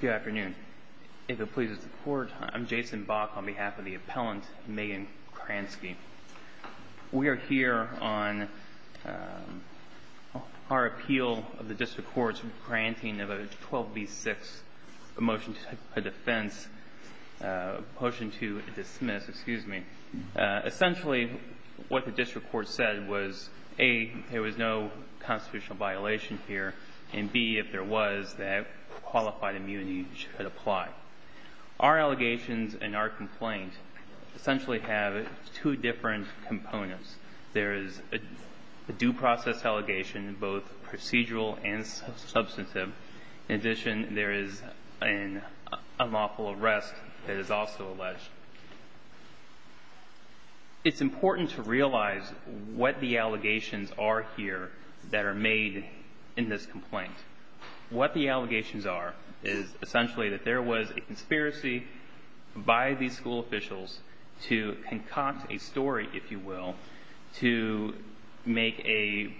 Good afternoon. If it pleases the court, I'm Jason Bach on behalf of the appellant Megan Kransky. We are here on our appeal of the district court's granting of a 12 v 6 motion to a defense, a motion to dismiss, excuse me. Essentially what the district court said was a there was no constitutional violation here, and b, if there was, that qualified immunity should apply. Our allegations and our complaint essentially have two different components. There is a due process allegation, both procedural and substantive. In addition, there is an unlawful arrest that is also alleged. It's important to realize what the allegations are here that are made in this complaint. What the allegations are is essentially that there was a conspiracy by these school officials to concoct a story, if you will, to make a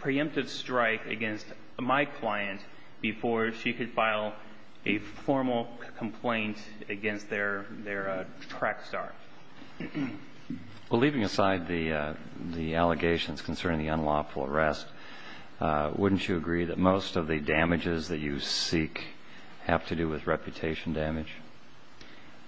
preemptive strike against my client before she could file a formal complaint against their track start. Well, leaving aside the allegations concerning the unlawful arrest, wouldn't you agree that most of the damages that you seek have to do with reputation damage?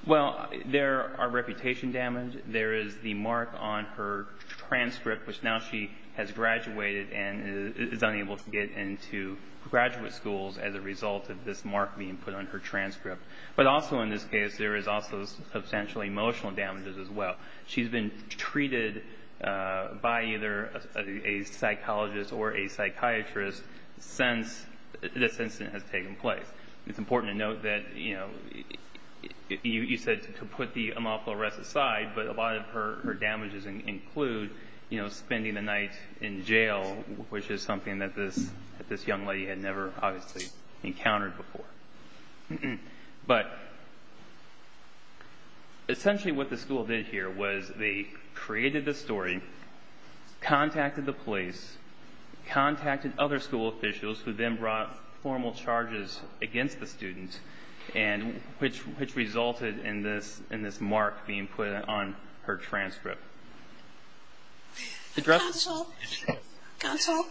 Well, there are reputation damage. There is the mark on her transcript, which now she has graduated and is unable to get into graduate schools as a result of this mark being put on her transcript. But also in this case, there is also substantial emotional damages as well. She's been treated by either a psychologist or a psychiatrist since this incident has taken place. It's important to note that, you know, you said to put the unlawful arrest aside, but a lot of her damages include, you know, spending the night in jail, which is something that this young lady had never obviously encountered before. But essentially what the school did here was they created the story, contacted the police, contacted other school officials who then brought formal charges against the student, which resulted in this mark being put on her transcript. Counsel,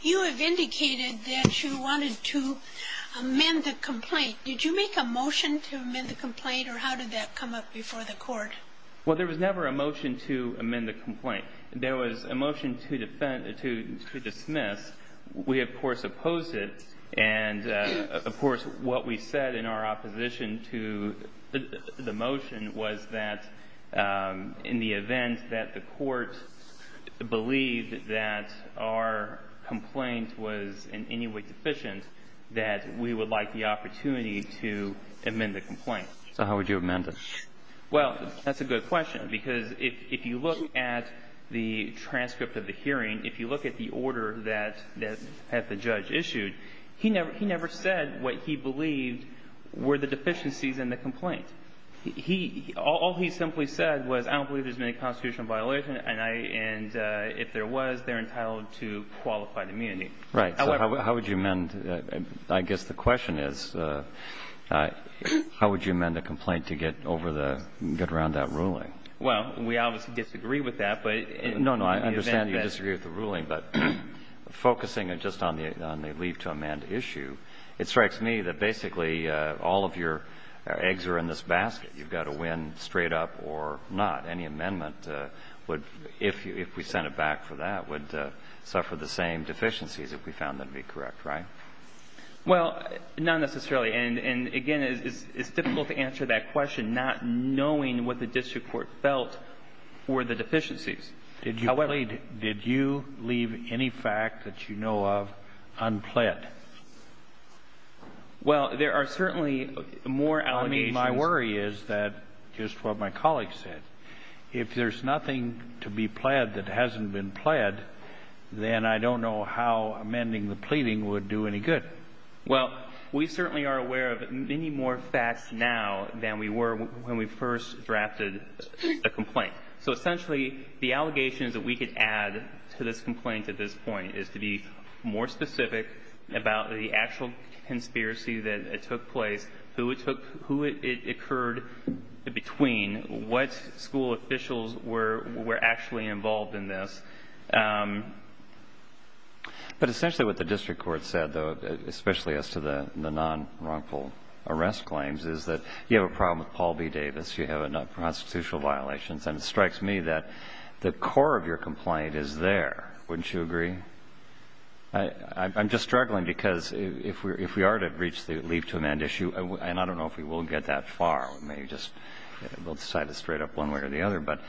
you have indicated that you wanted to amend the complaint. Did you make a motion to amend the complaint, or how did that come up before the court? Well, there was never a motion to amend the complaint. There was a motion to dismiss. We, of course, opposed it. And, of course, what we said in our opposition to the motion was that in the event that the court believed that our complaint was in any way deficient, that we would like the opportunity to amend the complaint. So how would you amend it? Well, that's a good question, because if you look at the transcript of the hearing, if you look at the transcript of the hearing that the judge issued, he never said what he believed were the deficiencies in the complaint. He – all he simply said was, I don't believe there's been a constitutional violation, and I – and if there was, they're entitled to qualified immunity. Right. So how would you amend – I guess the question is, how would you amend a complaint to get over the – get around that ruling? Well, we obviously disagree with that, but in the event that – Focusing just on the leave to amend issue, it strikes me that basically all of your eggs are in this basket. You've got to win straight up or not. Any amendment would – if we sent it back for that, would suffer the same deficiencies, if we found them to be correct, right? Well, not necessarily. And, again, it's difficult to answer that question not knowing what the district court felt were the deficiencies. Did you – I mean, my worry is that, just what my colleague said, if there's nothing to be pled that hasn't been pled, then I don't know how amending the pleading would do any good. Well, we certainly are aware of many more facts now than we were when we first drafted a complaint. So, essentially, the allegations that we could add to this complaint at this point is to be more specific about the actual conspiracy that took place, who it took – who it occurred between, what school officials were actually involved in this. But essentially what the district court said, though, especially as to the non-wrongful arrest claims, is that you have a problem with Paul B. Davis. You have enough constitutional violations. And it strikes me that the core of your complaint is there. Wouldn't you agree? I'm just struggling because if we are to reach the leave to amend issue – and I don't know if we will get that far. We may just – we'll decide it straight up one way or the other. But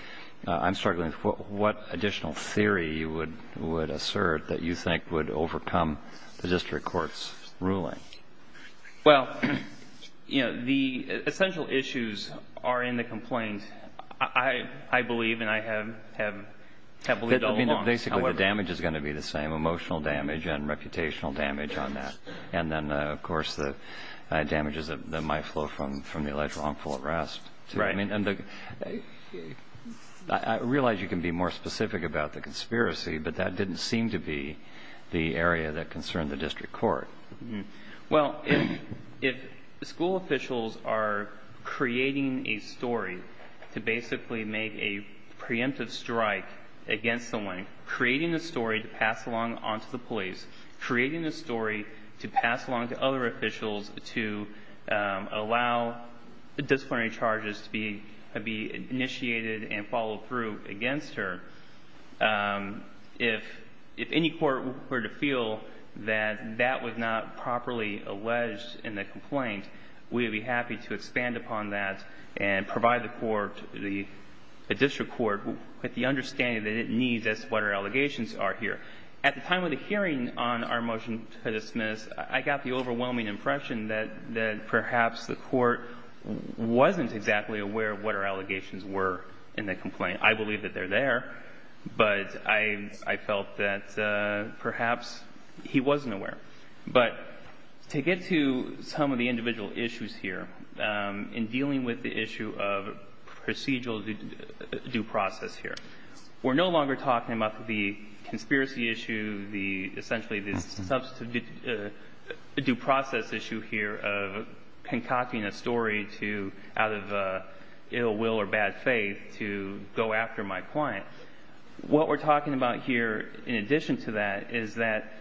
I'm struggling with what additional theory you would assert that you think would overcome the district court's ruling. Well, you know, the essential issues are in the complaint, I believe, and I have believed all along. Well, basically, the damage is going to be the same, emotional damage and reputational damage on that. And then, of course, the damages that might flow from the alleged wrongful arrest. Right. I mean, and the – I realize you can be more specific about the conspiracy, but that didn't seem to be the area that concerned the district court. Well, if school officials are creating a story to basically make a preemptive strike against someone, creating a story to pass along onto the police, creating a story to pass along to other officials to allow disciplinary charges to be initiated and followed through against her, if any court were to feel that that was not properly alleged in the complaint, we would be happy to expand upon that and provide the court – the district court with the understanding that it needs as to what her allegations are here. At the time of the hearing on our motion to dismiss, I got the overwhelming impression that perhaps the court wasn't exactly aware of what her allegations were in the complaint. I believe that they're there, but I felt that perhaps he wasn't aware. But to get to some of the individual issues here in dealing with the issue of procedural due process here, we're no longer talking about the conspiracy issue, the – essentially the substantive due process issue here of concocting a story to – out of ill will or bad faith to go after my client. What we're talking about here, in addition to that, is that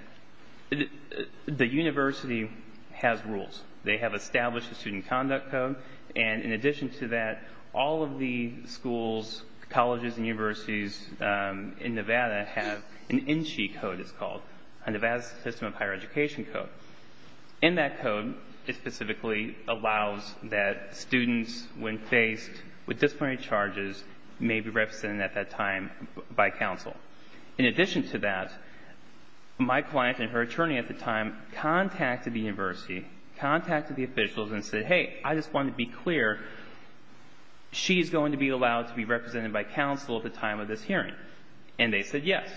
the university has rules. They have established a student conduct code. And in addition to that, all of the schools, colleges, and universities in Nevada have an NCHI code, it's called, a Nevada System of Higher Education code. In that code, it specifically allows that students, when faced with disciplinary charges, may be represented at that time by counsel. In addition to that, my client and her attorney at the time contacted the university, contacted the officials and said, hey, I just want to be clear, she's going to be allowed to be represented by counsel at the time of this hearing. And they said yes.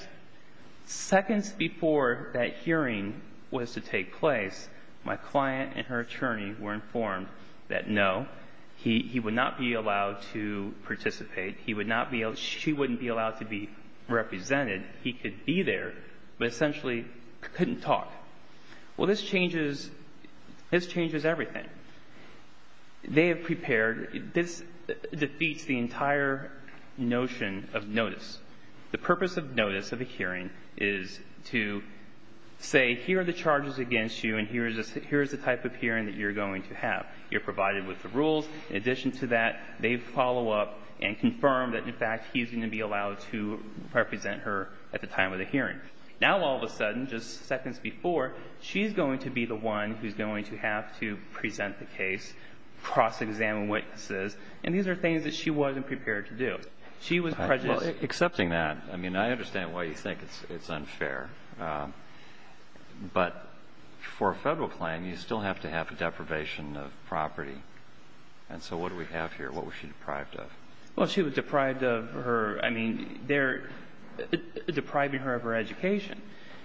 Seconds before that hearing was to take place, my client and her attorney were informed that no, he would not be allowed to participate, he would not be – she wouldn't be allowed to be represented. He could be there, but essentially couldn't talk. Well, this changes – this changes everything. They have prepared – this defeats the entire notion of notice. The purpose of notice of a hearing is to say, here are the charges against you and here is the type of hearing that you're going to have. You're provided with the rules. In addition to that, they follow up and confirm that, in fact, he's going to be allowed to represent her at the time of the hearing. Now all of a sudden, just seconds before, she's going to be the one who's going to have to present the case, cross-examine witnesses, and these are things that she wasn't prepared to do. She was prejudiced. Well, accepting that, I mean, I understand why you think it's unfair. But for a federal claim, you still have to have a deprivation of property. And so what do we have here? What was she deprived of? Well, she was deprived of her – I mean, they're depriving her of her education,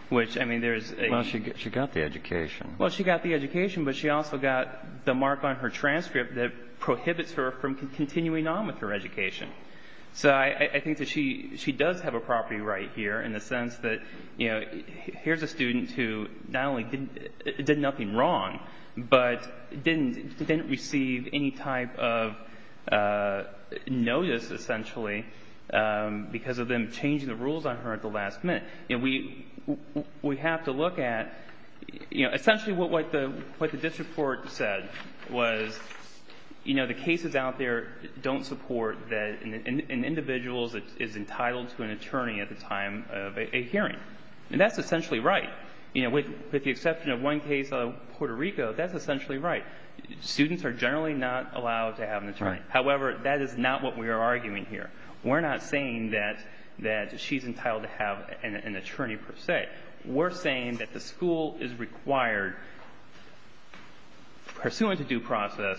which, I mean, there's a – Well, she got the education. Well, she got the education, but she also got the mark on her transcript that prohibits her from continuing on with her education. So I think that she does have a property right here in the sense that, you know, she's – here's a student who not only did nothing wrong, but didn't receive any type of notice, essentially, because of them changing the rules on her at the last minute. And we have to look at – you know, essentially what the district court said was, you know, the cases out there don't support that an individual is entitled to an attorney at the hearing. And that's essentially right. You know, with the exception of one case out of Puerto Rico, that's essentially right. Students are generally not allowed to have an attorney. However, that is not what we are arguing here. We're not saying that she's entitled to have an attorney per se. We're saying that the school is required, pursuant to due process,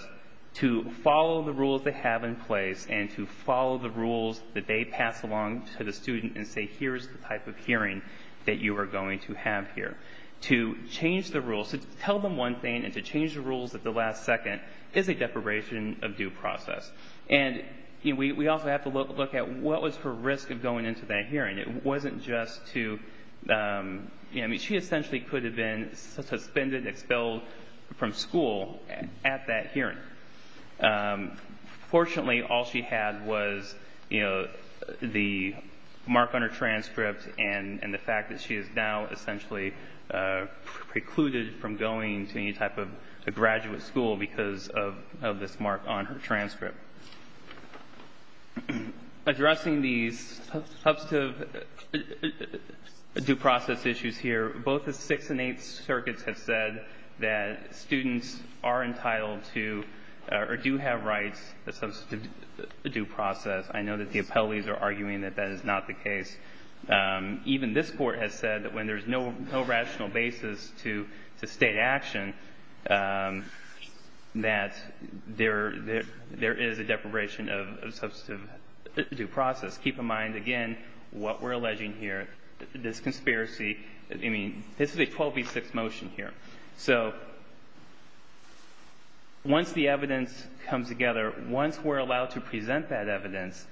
to follow the rules they have in place and to follow the rules that they pass along to the student and say, here's the type of hearing that you are going to have here. To change the rules – to tell them one thing and to change the rules at the last second is a deprivation of due process. And, you know, we also have to look at what was her risk of going into that hearing. It wasn't just to – you know, I mean, she essentially could have been suspended and expelled from school at that hearing. Fortunately, all she had was, you know, the mark on her transcript and the fact that she is now essentially precluded from going to any type of graduate school because of this mark on her transcript. Addressing these substantive due process issues here, both the Sixth and Eighth Circuits have said that students are entitled to or do have rights of substantive due process. I know that the appellees are arguing that that is not the case. Even this Court has said that when there's no rational basis to state action, that there is a deprivation of substantive due process. Keep in mind, again, what we're alleging here. This conspiracy – I mean, this is a 12 v. 6 motion here. So once the evidence comes together, once we're allowed to present that evidence,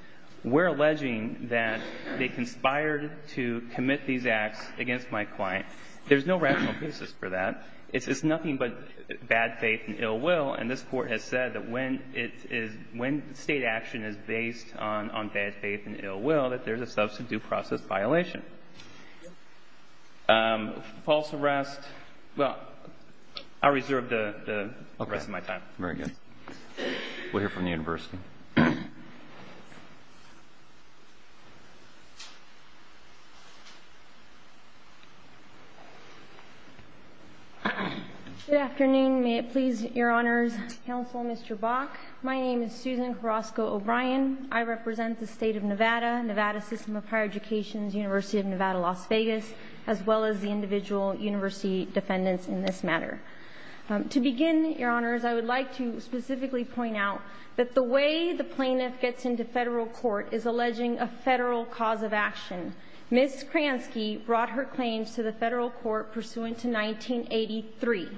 we're alleging that they conspired to commit these acts against my client. There's no rational basis for that. It's nothing but bad faith and ill will. And this Court has said that when it is – when state action is based on bad faith and ill will, that there's a substantive due process violation. False arrest. Well, I'll reserve the rest of my time. Okay. Very good. We'll hear from the University. Good afternoon. May it please your Honors Counsel, Mr. Bach. My name is Susan Carrasco-O'Brien. I represent the State of Nevada, Nevada System of Higher Education, the University of Nevada, Las Vegas, as well as the individual university defendants in this matter. To begin, your Honors, I would like to specifically point out that the way the plaintiff gets into federal court is alleging a federal cause of action. Ms. Kransky brought her claims to the federal court pursuant to 1983.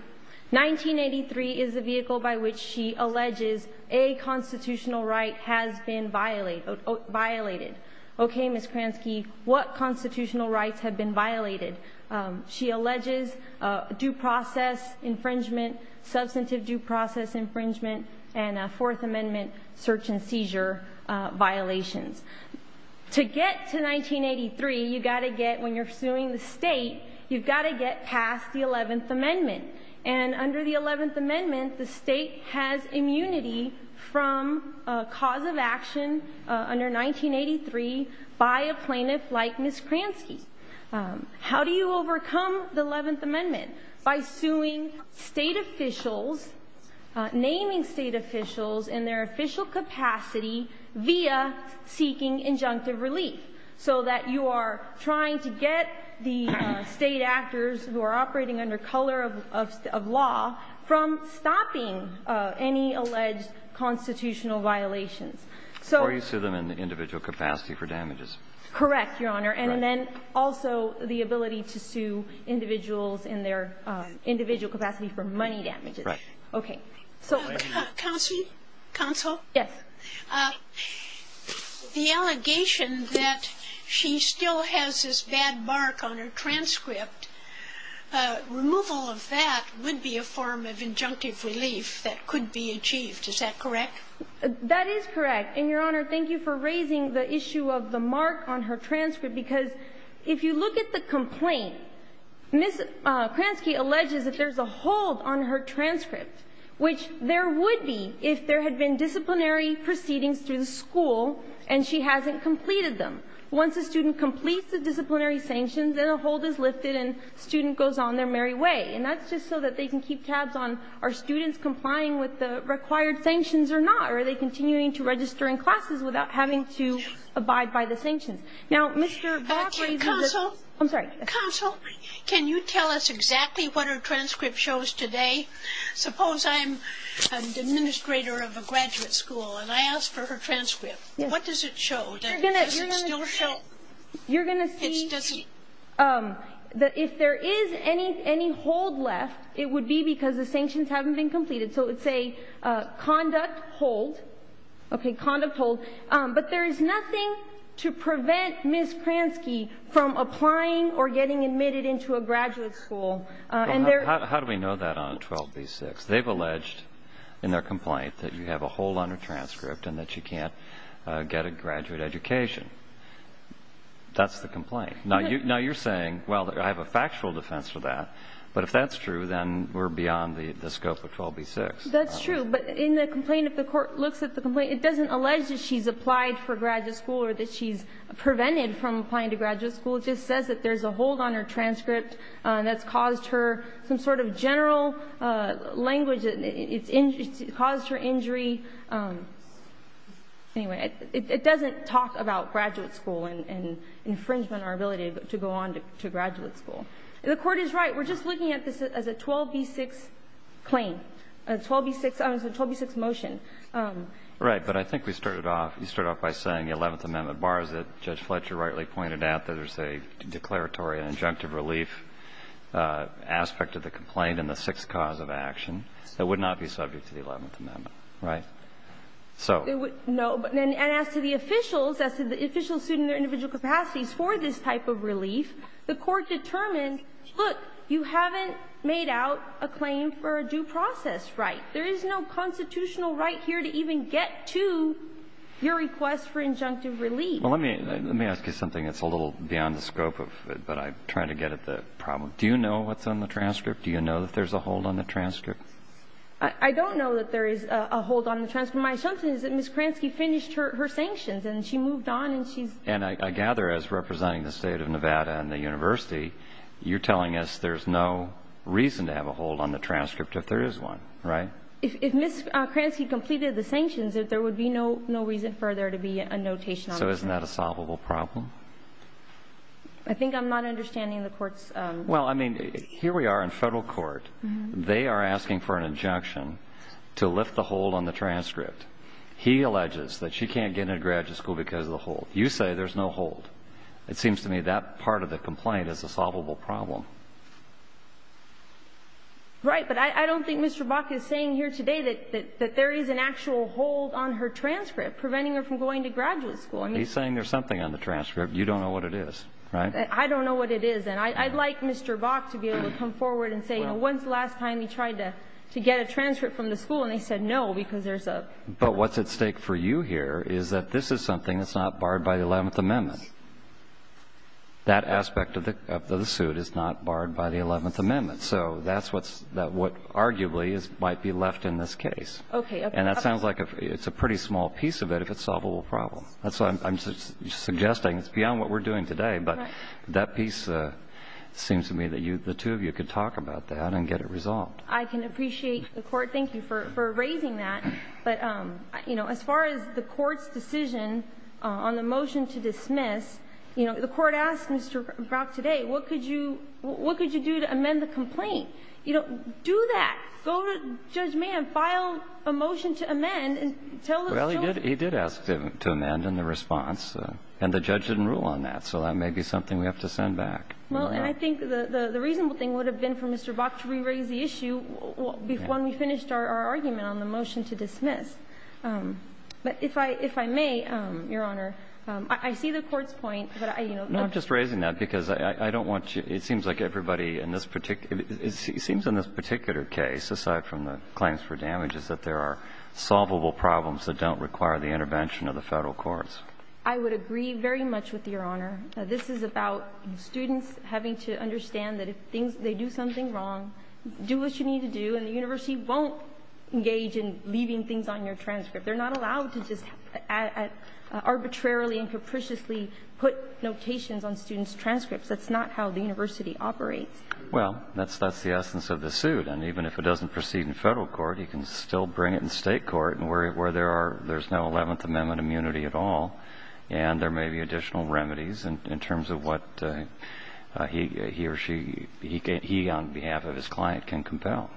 1983 is the vehicle by which she alleges a constitutional right has been violated. Okay, Ms. Kransky, what constitutional rights have been violated? She alleges due process infringement, substantive due process infringement, and a Fourth Amendment search and seizure violations. To get to 1983, you've got to get, when you're suing the state, you've got to get past the 11th Amendment. And under the 11th Amendment, the state has immunity from a cause of action under 1983 by a plaintiff like Ms. Kransky. How do you overcome the 11th Amendment? By suing state officials, naming state officials in their official capacity via seeking injunctive relief. So that you are trying to get the state actors who are operating under color of law from stopping any alleged constitutional violations. Or you sue them in the individual capacity for damages. Correct, Your Honor. And then also the ability to sue individuals in their individual capacity for money damages. Right. Okay. Counsel? Yes. The allegation that she still has this bad mark on her transcript, removal of that would be a form of injunctive relief that could be achieved. Is that correct? That is correct. And, Your Honor, thank you for raising the issue of the mark on her transcript. Because if you look at the complaint, Ms. Kransky alleges that there's a hold on her transcript, which there would be if there had been disciplinary proceedings through the school and she hasn't completed them. Once a student completes the disciplinary sanctions, then a hold is lifted and the student goes on their merry way. And that's just so that they can keep tabs on are students complying with the required sanctions or not? Or are they continuing to register in classes without having to abide by the sanctions? Now, Mr. Vavra... Counsel? I'm sorry. Counsel, can you tell us exactly what her transcript shows today? Suppose I'm an administrator of a graduate school and I ask for her transcript. What does it show? Does it still show...? You're going to see... It doesn't... ...that if there is any hold left, it would be because the sanctions haven't been completed. So it's a conduct hold. Okay, conduct hold. But there is nothing to prevent Ms. Kransky from applying or getting admitted into a graduate school. How do we know that on a 12b-6? They've alleged in their complaint that you have a hold on her transcript and that you can't get a graduate education. That's the complaint. Now, you're saying, well, I have a factual defense for that. But if that's true, then we're beyond the scope of 12b-6. That's true. But in the complaint, if the court looks at the complaint, it doesn't allege that she's applied for graduate school or that she's prevented from applying to graduate school. It just says that there's a hold on her transcript that's caused her some sort of general language that caused her injury. Anyway, it doesn't talk about graduate school and infringement or ability to go on to graduate school. The Court is right. We're just looking at this as a 12b-6 claim, a 12b-6 motion. Right. But I think we started off you started off by saying the Eleventh Amendment borrows it. Judge Fletcher rightly pointed out that there's a declaratory and injunctive relief aspect of the complaint and the sixth cause of action that would not be subject to the Eleventh Amendment. Right. So. No. And as to the officials, as to the officials suing their individual capacities for this type of relief, the Court determined, look, you haven't made out a claim for a due process right. There is no constitutional right here to even get to your request for injunctive relief. Well, let me ask you something that's a little beyond the scope of it, but I'm trying to get at the problem. Do you know what's on the transcript? Do you know that there's a hold on the transcript? I don't know that there is a hold on the transcript. My assumption is that Ms. Kransky finished her sanctions and she moved on and she's. And I gather, as representing the State of Nevada and the University, you're telling us there's no reason to have a hold on the transcript if there is one, right? If Ms. Kransky completed the sanctions, there would be no reason further to be a notation on the transcript. So isn't that a solvable problem? I think I'm not understanding the Court's. Well, I mean, here we are in federal court. They are asking for an injunction to lift the hold on the transcript. He alleges that she can't get into graduate school because of the hold. You say there's no hold. It seems to me that part of the complaint is a solvable problem. Right. But I don't think Mr. Bach is saying here today that there is an actual hold on her transcript preventing her from going to graduate school. He's saying there's something on the transcript. You don't know what it is, right? I don't know what it is, and I'd like Mr. Bach to be able to come forward and say, you know, when's the last time he tried to get a transcript from the school and they said no because there's a But what's at stake for you here is that this is something that's not barred by the Eleventh Amendment. That aspect of the suit is not barred by the Eleventh Amendment. So that's what's that's what arguably might be left in this case. And that sounds like it's a pretty small piece of it if it's a solvable problem. That's what I'm suggesting. It's beyond what we're doing today, but that piece seems to me that the two of you could talk about that and get it resolved. I can appreciate the Court. Thank you for raising that. But, you know, as far as the Court's decision on the motion to dismiss, you know, the Court asked Mr. Bach today, what could you do to amend the complaint? You know, do that. Go to Judge May and file a motion to amend and tell the jury. Well, he did ask to amend in the response, and the judge didn't rule on that. So that may be something we have to send back. Well, and I think the reasonable thing would have been for Mr. Bach to re-raise the issue when we finished our argument on the motion to dismiss. But if I may, Your Honor, I see the Court's point, but I, you know... No, I'm just raising that because I don't want you it seems like everybody in this particular it seems in this particular case aside from the claims for damages that there are solvable problems that don't require the intervention of the Federal Courts. I would agree very much with Your Honor. This is about students having to understand that if things they do something wrong do what you need to do and the University won't engage in leaving things on your transcript. They're not allowed to just arbitrarily and capriciously put notations on students' transcripts. That's not how the University operates. Well, that's that's the essence of the suit and even if it doesn't proceed in Federal Court you can still bring it in State Court where there are there's no 11th Amendment immunity at all and there may be additional remedies in terms of what he or she he on behalf of his client can compel.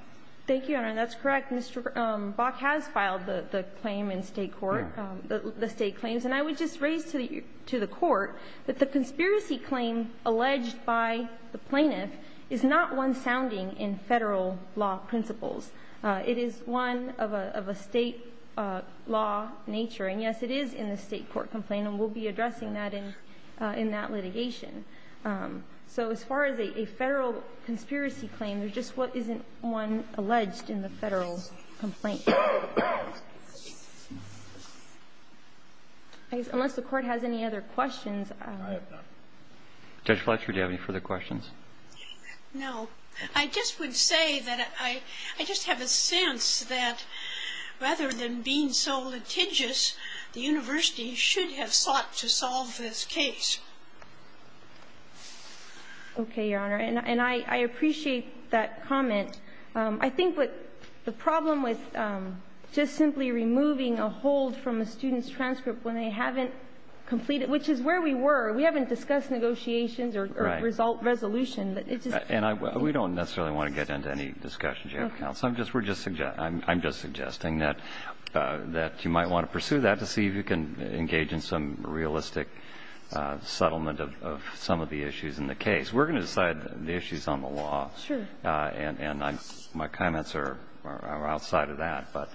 Thank you, Your Honor and that's correct. Mr. Bach has filed the claim in State Court the State claims and I would just like to raise to the Court that the conspiracy claim alleged by the plaintiff is not one sounding in Federal law principles. It is one of a State law nature and yes it is in the State Court complaint and we'll be addressing that in that litigation. So as far as a Federal conspiracy claim there's just what isn't one alleged in the Federal complaint. Unless the Court has any other questions Judge Fletcher do you have any further questions? No. I just would say that I just have a sense that rather than being so litigious the University should have sought to solve this case. Okay, Your Honor and I appreciate that comment. I think what the problem with just simply removing a hold from a student's transcript when they haven't completed which is where we were. We haven't discussed negotiations or resolution. And we don't necessarily want to get into any discussion Judge Fletcher. I'm get into that. But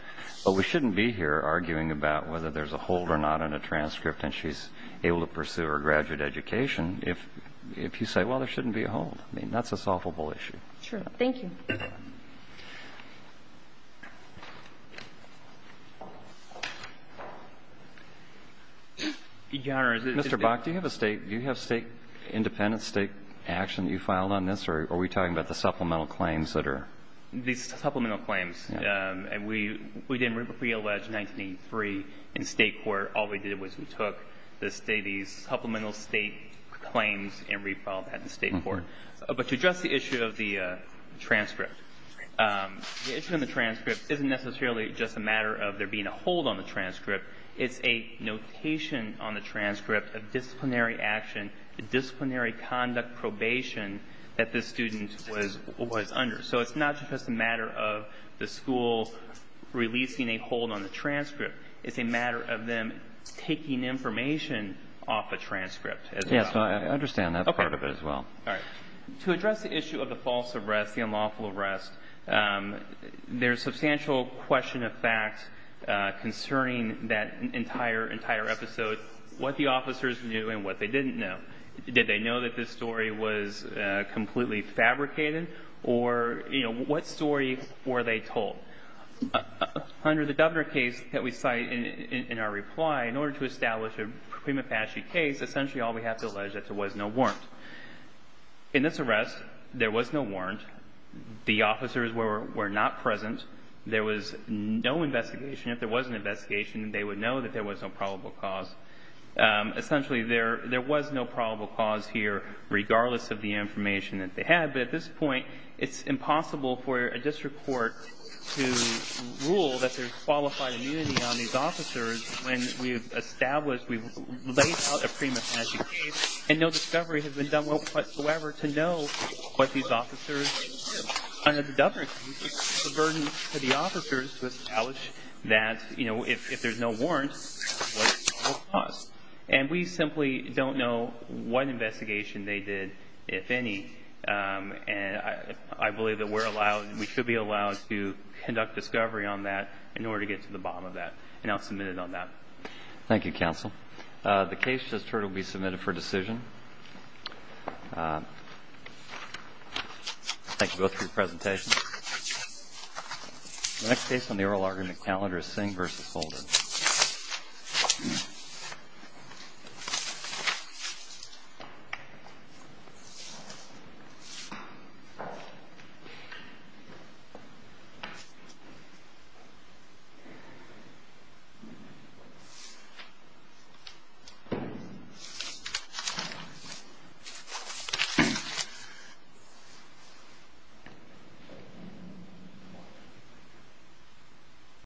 we shouldn't be here arguing about whether there's a hold or not in a transcript and she's able to pursue her graduate education if you say there shouldn't be a hold. That's not what we're do. We don't have a hold the transcript. We don't have a hold on the transcript. We don't have a hold on the transcript. We don't have a hold on the transcript. We don't have a hold on the transcript. And so the military conduct probation that the student was under. So it's not just a matter of the military that the student don't have a hold on the transcript. We don't have a hold on the transcript. We don't have a hold on the transcript. hold on the transcript. So we don't have a hold on the transcript. We don't have a hold on the transcript. And so the military conduct probation that the student under transcript. And so the military conduct probation that the student was under the transcript. And so the military conduct probation so the military conduct hate probation that the student was under the president of the United States.